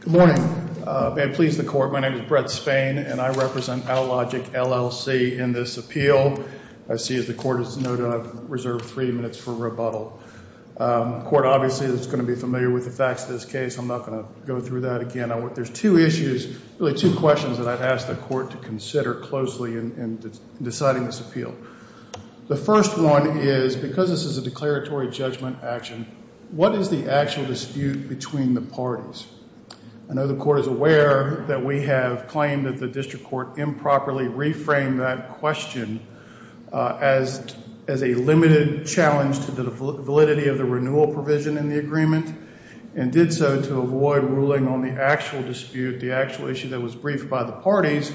Good morning. May it please the court, my name is Brett Spain and I represent Allogic LLC in this appeal. I see as the court has noted I've reserved three minutes for rebuttal. The court obviously is going to be familiar with the facts of this case. I'm not going to go through that again. There's two issues, really two questions that I've asked the court to consider closely in deciding this appeal. The first one is because this is a declaratory judgment action, what is the actual dispute between the parties? I know the court is aware that we have claimed that the district court improperly reframed that question as a limited challenge to the validity of the renewal provision in the agreement and did so to avoid ruling on the actual dispute, the actual issue that was briefed by the parties,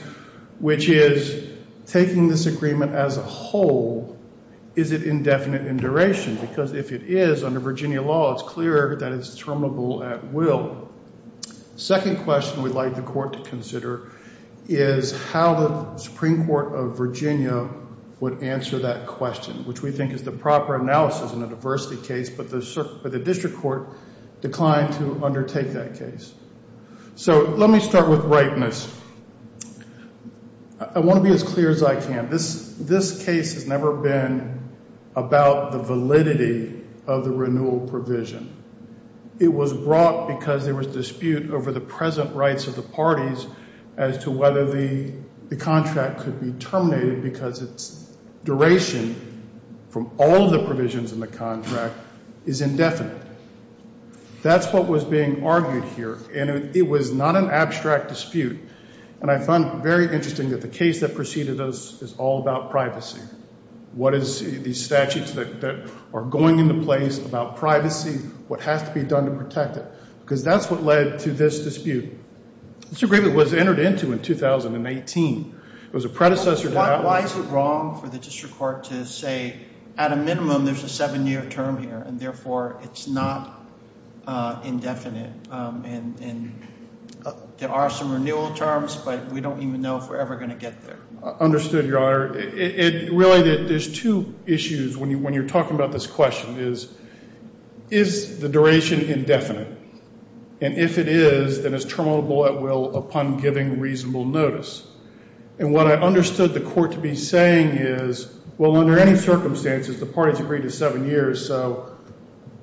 which is taking this agreement as a whole. Is it indefinite in duration? Because if it is, under Virginia law, it's clear that it's terminable at will. Second question we'd like the court to consider is how the Supreme Court of Virginia would answer that question, which we think is the proper analysis in a diversity case, but the district court declined to undertake that case. So let me start with rightness. I want to be as clear as I can. This case has never been about the validity of the renewal provision. It was brought because there was dispute over the present rights of the parties as to whether the contract could be terminated because its duration from all the provisions in the contract is indefinite. That's what was being argued here, and it was not an abstract dispute, and I found it very interesting that the case that preceded us is all about privacy. What is these statutes that are going into place about privacy? What has to be done to protect it? Because that's what led to this dispute. This agreement was entered into in 2018. It was a predecessor to that one. Why is it wrong for the district court to say at a minimum there's a seven-year term here and therefore it's not indefinite? And there are some renewal terms, but we don't even know if we're ever going to get there. Understood, Your Honor. Really, there's two issues when you're talking about this question is, is the duration indefinite? And if it is, then it's terminable at will upon giving reasonable notice. And what I understood the court to be saying is, well, under any circumstances, the parties agreed to seven years, so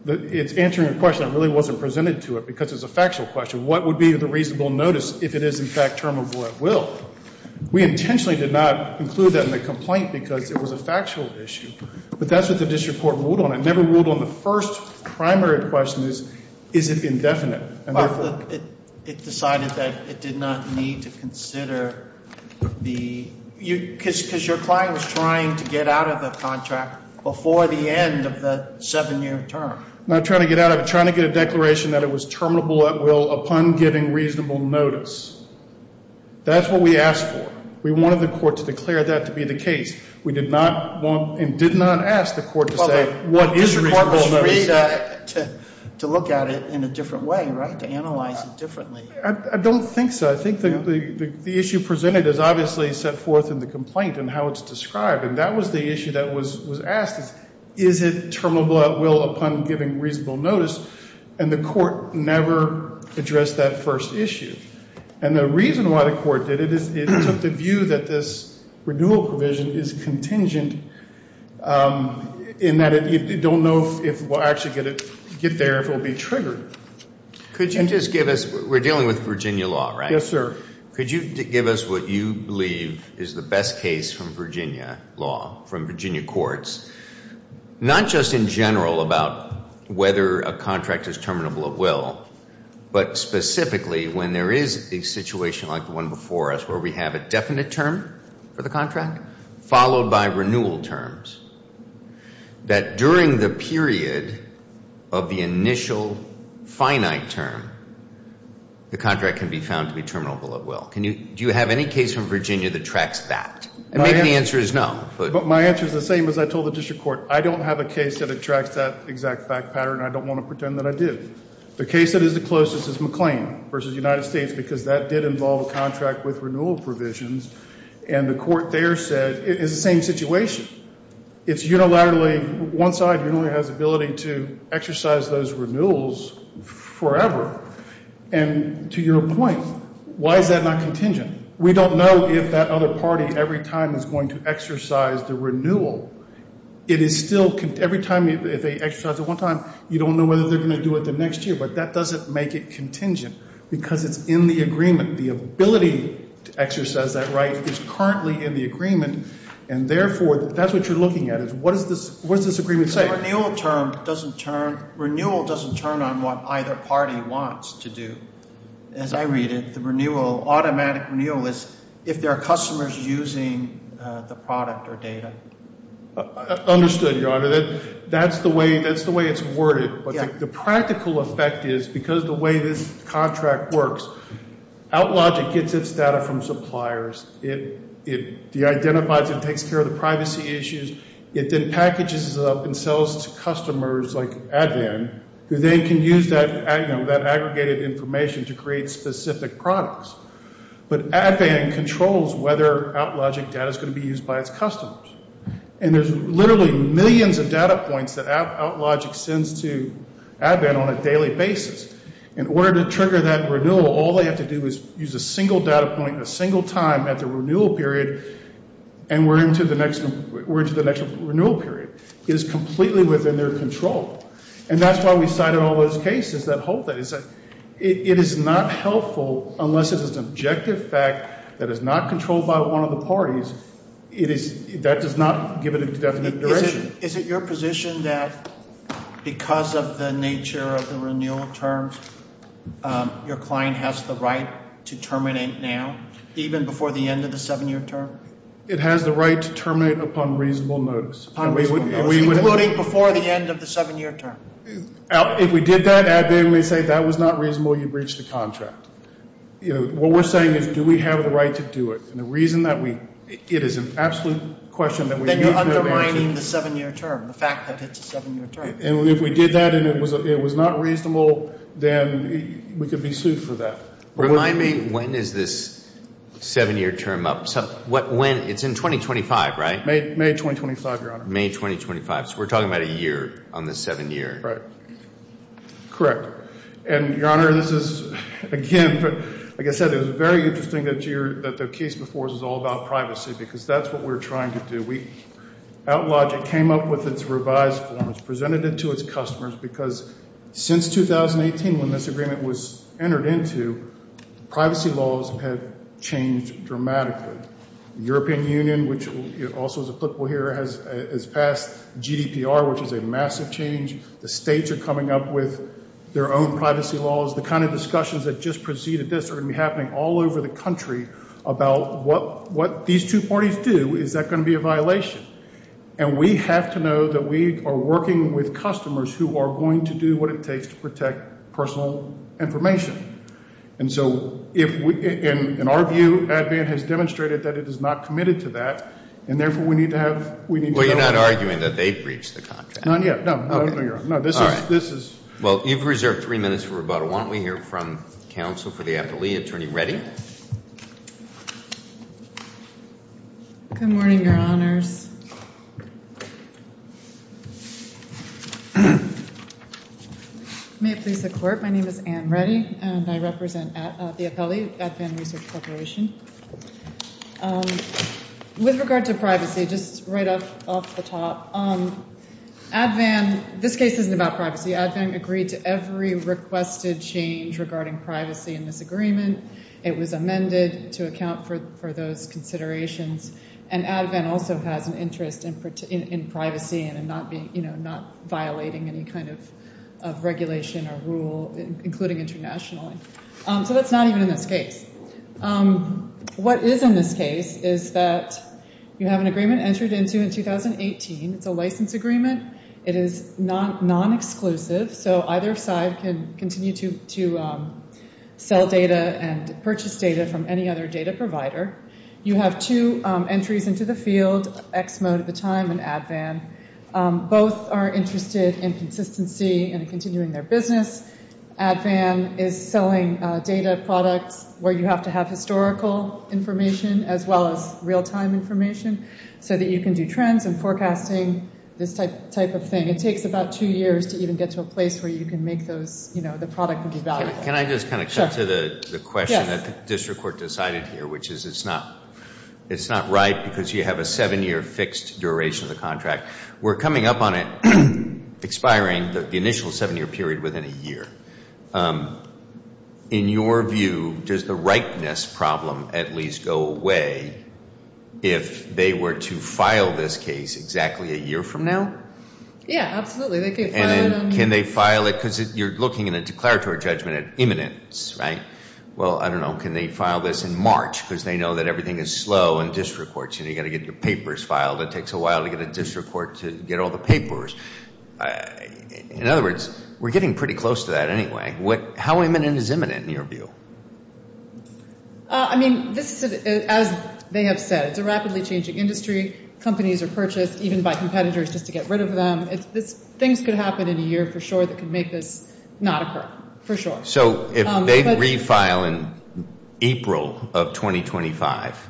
it's answering a question that really wasn't presented to it because it's a factual question. What would be the reasonable notice if it is, in fact, terminable at will? We intentionally did not include that in the complaint because it was a factual issue. But that's what the district court ruled on. It never ruled on the first primary question is, is it indefinite? It decided that it did not need to consider the — because your client was trying to get out of the contract before the end of the seven-year term. I'm not trying to get out of it. I'm trying to get a declaration that it was terminable at will upon giving reasonable notice. That's what we asked for. We wanted the court to declare that to be the case. We did not want and did not ask the court to say what is reasonable notice. Well, the district court was free to look at it in a different way, right, to analyze it differently. I don't think so. I think the issue presented is obviously set forth in the complaint and how it's described. And that was the issue that was asked is, is it terminable at will upon giving reasonable notice? And the court never addressed that first issue. And the reason why the court did it is it took the view that this renewal provision is contingent in that you don't know if it will actually get there, if it will be triggered. Could you just give us — we're dealing with Virginia law, right? Yes, sir. Could you give us what you believe is the best case from Virginia law, from Virginia courts, not just in general about whether a contract is terminable at will, but specifically when there is a situation like the one before us where we have a definite term for the contract followed by renewal terms, that during the period of the initial finite term, the contract can be found to be terminable at will? Do you have any case from Virginia that tracks that? And maybe the answer is no. But my answer is the same as I told the district court. I don't have a case that tracks that exact fact pattern, and I don't want to pretend that I did. The case that is the closest is McLean v. United States because that did involve a contract with renewal provisions. And the court there said it's the same situation. It's unilaterally one side who only has ability to exercise those renewals forever. And to your point, why is that not contingent? We don't know if that other party every time is going to exercise the renewal. It is still — every time if they exercise it one time, you don't know whether they're going to do it the next year. But that doesn't make it contingent because it's in the agreement. The ability to exercise that right is currently in the agreement, and, therefore, that's what you're looking at. What does this agreement say? Renewal doesn't turn on what either party wants to do. As I read it, the automatic renewal is if there are customers using the product or data. Understood, Your Honor. That's the way it's worded. But the practical effect is because the way this contract works, OutLogic gets its data from suppliers. It identifies and takes care of the privacy issues. It then packages it up and sells to customers like Advan who then can use that aggregated information to create specific products. But Advan controls whether OutLogic data is going to be used by its customers. And there's literally millions of data points that OutLogic sends to Advan on a daily basis. In order to trigger that renewal, all they have to do is use a single data point a single time at the renewal period, and we're into the next renewal period. It is completely within their control. And that's why we cited all those cases that hold that. It is not helpful unless it is an objective fact that is not controlled by one of the parties. That does not give it a definite direction. Is it your position that because of the nature of the renewal terms, your client has the right to terminate now, even before the end of the seven-year term? It has the right to terminate upon reasonable notice. Including before the end of the seven-year term? If we did that, Advan would say that was not reasonable, you breached the contract. What we're saying is do we have the right to do it? And the reason that we, it is an absolute question that we need to have answers. Then you're undermining the seven-year term, the fact that it's a seven-year term. And if we did that and it was not reasonable, then we could be sued for that. Remind me, when is this seven-year term up? It's in 2025, right? May 2025, Your Honor. May 2025. So we're talking about a year on the seven-year. Right. Correct. And, Your Honor, this is, again, like I said, it was very interesting that the case before us is all about privacy because that's what we're trying to do. OutLogic came up with its revised forms, presented it to its customers, because since 2018 when this agreement was entered into, privacy laws have changed dramatically. The European Union, which also is applicable here, has passed GDPR, which is a massive change. The states are coming up with their own privacy laws. The kind of discussions that just preceded this are going to be happening all over the country about what these two parties do. Is that going to be a violation? And we have to know that we are working with customers who are going to do what it takes to protect personal information. And so, in our view, Advan has demonstrated that it is not committed to that, and therefore we need to have, we need to know. Well, you're not arguing that they breached the contract. Not yet, no. No, this is. Well, you've reserved three minutes for rebuttal. Why don't we hear from counsel for the appellee, Attorney Reddy. Good morning, Your Honors. May it please the Court, my name is Anne Reddy, and I represent the appellee, Advan Research Corporation. With regard to privacy, just right off the top, Advan, this case isn't about privacy. Advan agreed to every requested change regarding privacy in this agreement. It was amended to account for those considerations. And Advan also has an interest in privacy and in not being, you know, not violating any kind of regulation or rule, including internationally. So that's not even in this case. What is in this case is that you have an agreement entered into in 2018. It's a license agreement. It is non-exclusive, so either side can continue to sell data and purchase data from any other data provider. You have two entries into the field, Exmo at the time and Advan. Both are interested in consistency and in continuing their business. Advan is selling data products where you have to have historical information as well as real-time information, so that you can do trends and forecasting, this type of thing. It takes about two years to even get to a place where you can make those, you know, the product would be valuable. Can I just kind of cut to the question that the district court decided here, which is it's not right because you have a seven-year fixed duration of the contract. We're coming up on it expiring, the initial seven-year period within a year. In your view, does the ripeness problem at least go away if they were to file this case exactly a year from now? Yeah, absolutely. And then can they file it because you're looking in a declaratory judgment at imminence, right? Well, I don't know. Can they file this in March because they know that everything is slow in district courts and you've got to get your papers filed. It takes a while to get a district court to get all the papers. In other words, we're getting pretty close to that anyway. How imminent is imminent in your view? I mean, this is, as they have said, it's a rapidly changing industry. Companies are purchased even by competitors just to get rid of them. Things could happen in a year for sure that could make this not occur, for sure. So if they refile in April of 2025,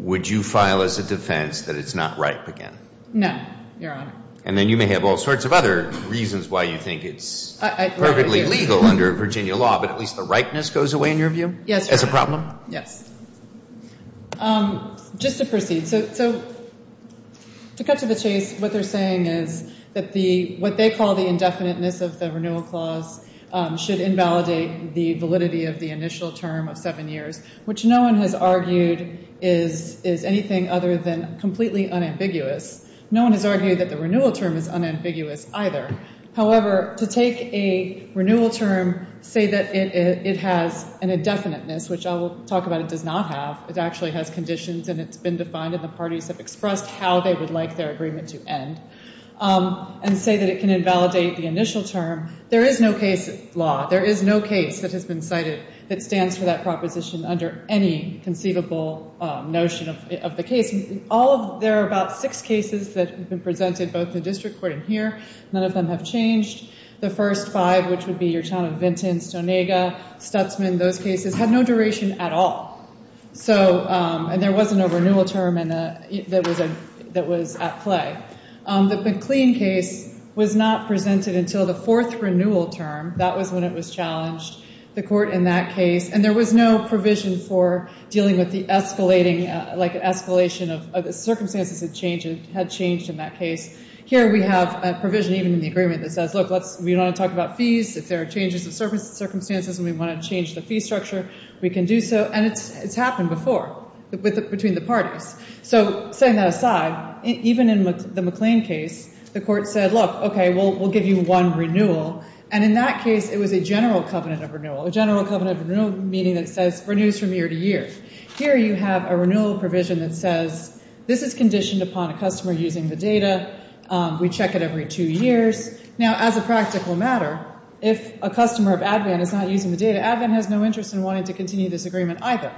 would you file as a defense that it's not ripe again? No, Your Honor. And then you may have all sorts of other reasons why you think it's perfectly legal under Virginia law, but at least the ripeness goes away in your view? Yes, Your Honor. As a problem? Yes. Just to proceed. So to cut to the chase, what they're saying is that what they call the indefiniteness of the renewal clause should invalidate the validity of the initial term of seven years, which no one has argued is anything other than completely unambiguous. No one has argued that the renewal term is unambiguous either. However, to take a renewal term, say that it has an indefiniteness, which I will talk about it does not have. It actually has conditions, and it's been defined, and the parties have expressed how they would like their agreement to end, and say that it can invalidate the initial term. There is no case law, there is no case that has been cited that stands for that proposition under any conceivable notion of the case. There are about six cases that have been presented, both in the district court and here. None of them have changed. The first five, which would be your town of Vinton, Stoneaga, Stutzman, those cases had no duration at all. And there wasn't a renewal term that was at play. The McLean case was not presented until the fourth renewal term. That was when it was challenged, the court in that case. And there was no provision for dealing with the escalating, like an escalation of circumstances that had changed in that case. Here we have a provision even in the agreement that says, look, we don't want to talk about fees. If there are changes in circumstances and we want to change the fee structure, we can do so. And it's happened before between the parties. So setting that aside, even in the McLean case, the court said, look, okay, we'll give you one renewal. And in that case, it was a general covenant of renewal. A general covenant of renewal meaning it says renews from year to year. Here you have a renewal provision that says this is conditioned upon a customer using the data. We check it every two years. Now, as a practical matter, if a customer of ADVAN is not using the data, ADVAN has no interest in wanting to continue this agreement either.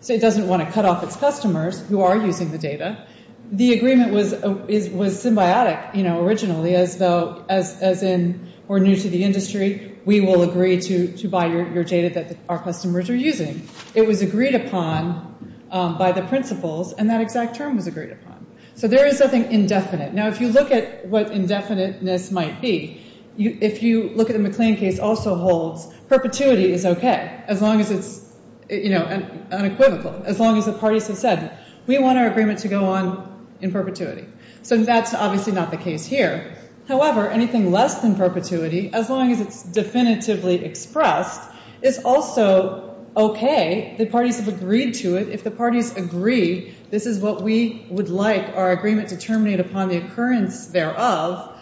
So it doesn't want to cut off its customers who are using the data. The agreement was symbiotic, you know, originally as though as in we're new to the industry, we will agree to buy your data that our customers are using. It was agreed upon by the principles, and that exact term was agreed upon. So there is nothing indefinite. Now, if you look at what indefiniteness might be, if you look at the McLean case also holds, perpetuity is okay as long as it's, you know, unequivocal, as long as the parties have said, we want our agreement to go on in perpetuity. So that's obviously not the case here. However, anything less than perpetuity, as long as it's definitively expressed, is also okay. The parties have agreed to it. If the parties agree this is what we would like our agreement to terminate upon the occurrence thereof,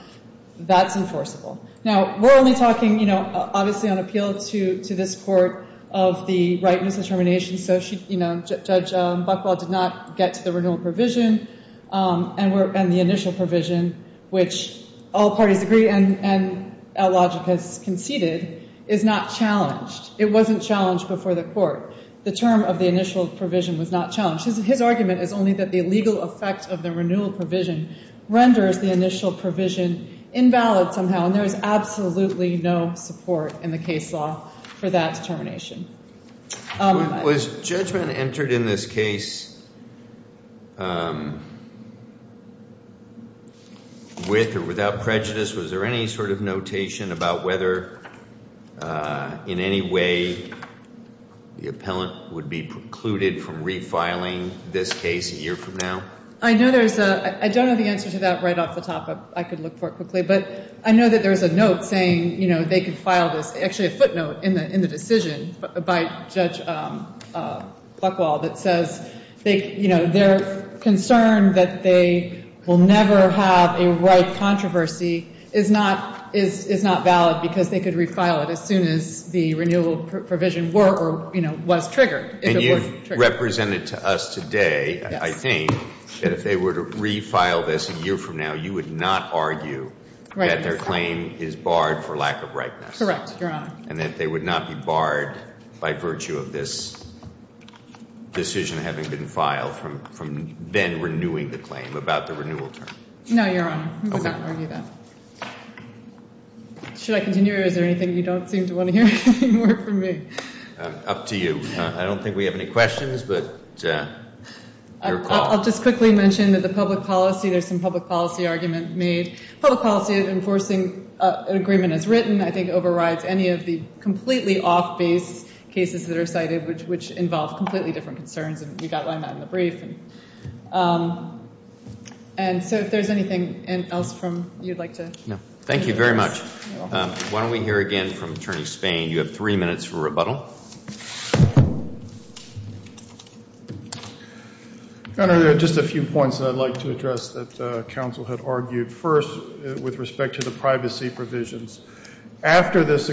that's enforceable. Now, we're only talking, you know, obviously on appeal to this court of the rightness of termination. So, you know, Judge Buchwald did not get to the renewal provision, and the initial provision, which all parties agree and logic has conceded, is not challenged. It wasn't challenged before the court. The term of the initial provision was not challenged. His argument is only that the legal effect of the renewal provision renders the initial provision invalid somehow, and there is absolutely no support in the case law for that termination. Was judgment entered in this case with or without prejudice? Was there any sort of notation about whether in any way the appellant would be precluded from refiling this case a year from now? I don't have the answer to that right off the top. I could look for it quickly. But I know that there's a note saying, you know, they could file this. Actually, a footnote in the decision by Judge Buchwald that says, you know, their concern that they will never have a right controversy is not valid because they could refile it as soon as the renewal provision were or, you know, was triggered. And you represented to us today, I think, that if they were to refile this a year from now, you would not argue that their claim is barred for lack of rightness. Correct, Your Honor. And that they would not be barred by virtue of this decision having been filed from then renewing the claim about the renewal term. No, Your Honor. Okay. I would not argue that. Should I continue or is there anything you don't seem to want to hear anymore from me? Up to you. I don't think we have any questions, but your call. I'll just quickly mention that the public policy, there's some public policy argument made. Public policy of enforcing an agreement as written, I think, overrides any of the completely off-base cases that are cited, which involve completely different concerns. And you outline that in the brief. And so if there's anything else from you, I'd like to. No. Thank you very much. Why don't we hear again from Attorney Spain. You have three minutes for rebuttal. Your Honor, there are just a few points that I'd like to address that counsel had argued. First, with respect to the privacy provisions. After this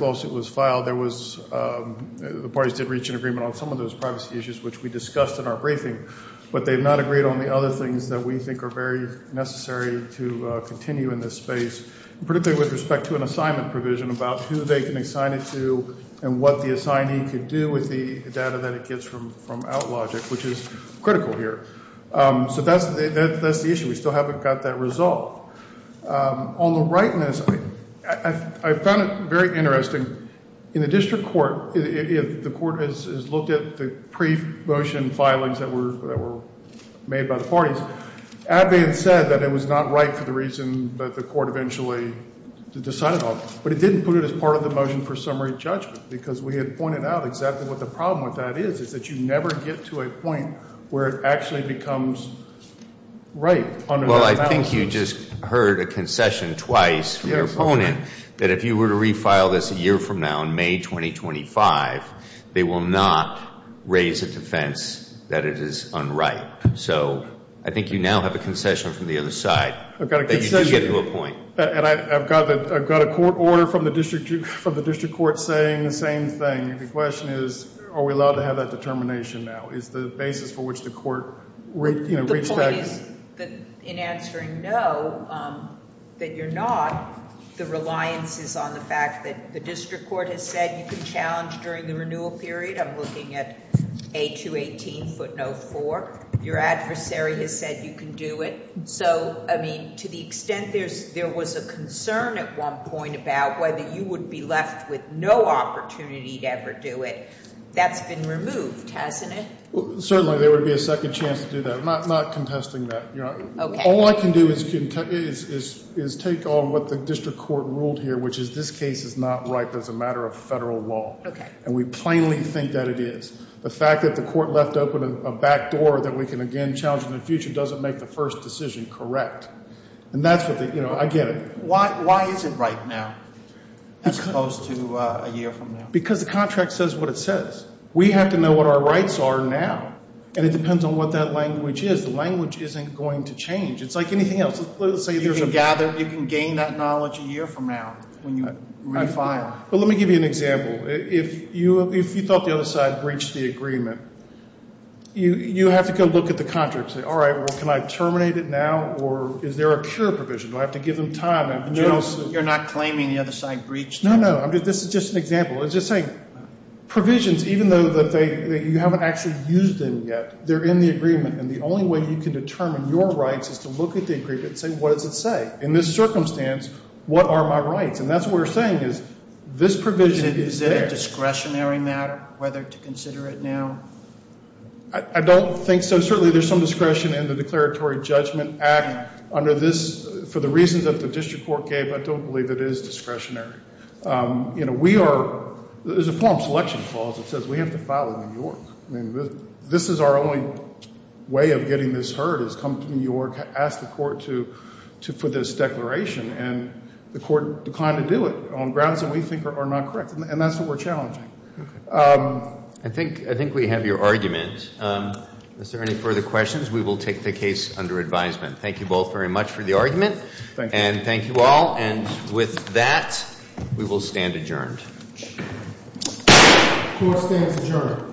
lawsuit was filed, there was, the parties did reach an agreement on some of those privacy issues, which we discussed in our briefing. But they've not agreed on the other things that we think are very necessary to continue in this space, particularly with respect to an assignment provision about who they can assign it to and what the assignee could do with the data that it gets from OutLogic, which is critical here. So that's the issue. We still haven't got that resolved. On the rightness, I found it very interesting. In the district court, the court has looked at the pre-motion filings that were made by the parties. Advance said that it was not right for the reason that the court eventually decided on. But it didn't put it as part of the motion for summary judgment because we had pointed out exactly what the problem with that is, is that you never get to a point where it actually becomes right. Well, I think you just heard a concession twice from your opponent that if you were to refile this a year from now, in May 2025, they will not raise a defense that it is unright. So I think you now have a concession from the other side that you did get to a point. And I've got a court order from the district court saying the same thing. The question is, are we allowed to have that determination now? Is the basis for which the court reached that? The point is that in answering no, that you're not, the reliance is on the fact that the district court has said you can challenge during the renewal period. I'm looking at 8218, footnote 4. Your adversary has said you can do it. So, I mean, to the extent there was a concern at one point about whether you would be left with no opportunity to ever do it, that's been removed, hasn't it? Certainly, there would be a second chance to do that. I'm not contesting that. All I can do is take on what the district court ruled here, which is this case is not ripe as a matter of federal law. And we plainly think that it is. The fact that the court left open a back door that we can again challenge in the future doesn't make the first decision correct. And that's what the, you know, I get it. Why is it ripe now as opposed to a year from now? Because the contract says what it says. We have to know what our rights are now. And it depends on what that language is. The language isn't going to change. It's like anything else. You can gather, you can gain that knowledge a year from now when you re-file. Well, let me give you an example. If you thought the other side breached the agreement, you have to go look at the contract and say, all right, well, can I terminate it now? Or is there a cure provision? Do I have to give them time? You're not claiming the other side breached? No, no. This is just an example. It's just saying provisions, even though you haven't actually used them yet, they're in the agreement. And the only way you can determine your rights is to look at the agreement and say, what does it say? In this circumstance, what are my rights? And that's what we're saying is this provision is there. Is it a discretionary matter whether to consider it now? I don't think so. Certainly there's some discretion in the Declaratory Judgment Act under this. For the reasons that the district court gave, I don't believe it is discretionary. You know, we are, there's a form of selection clause that says we have to file in New York. I mean, this is our only way of getting this heard is come to New York, ask the court for this declaration. And the court declined to do it on grounds that we think are not correct. And that's what we're challenging. Okay. I think we have your argument. Is there any further questions? We will take the case under advisement. Thank you both very much for the argument. Thank you. And thank you all. And with that, we will stand adjourned. Court stands adjourned. Court adjourned.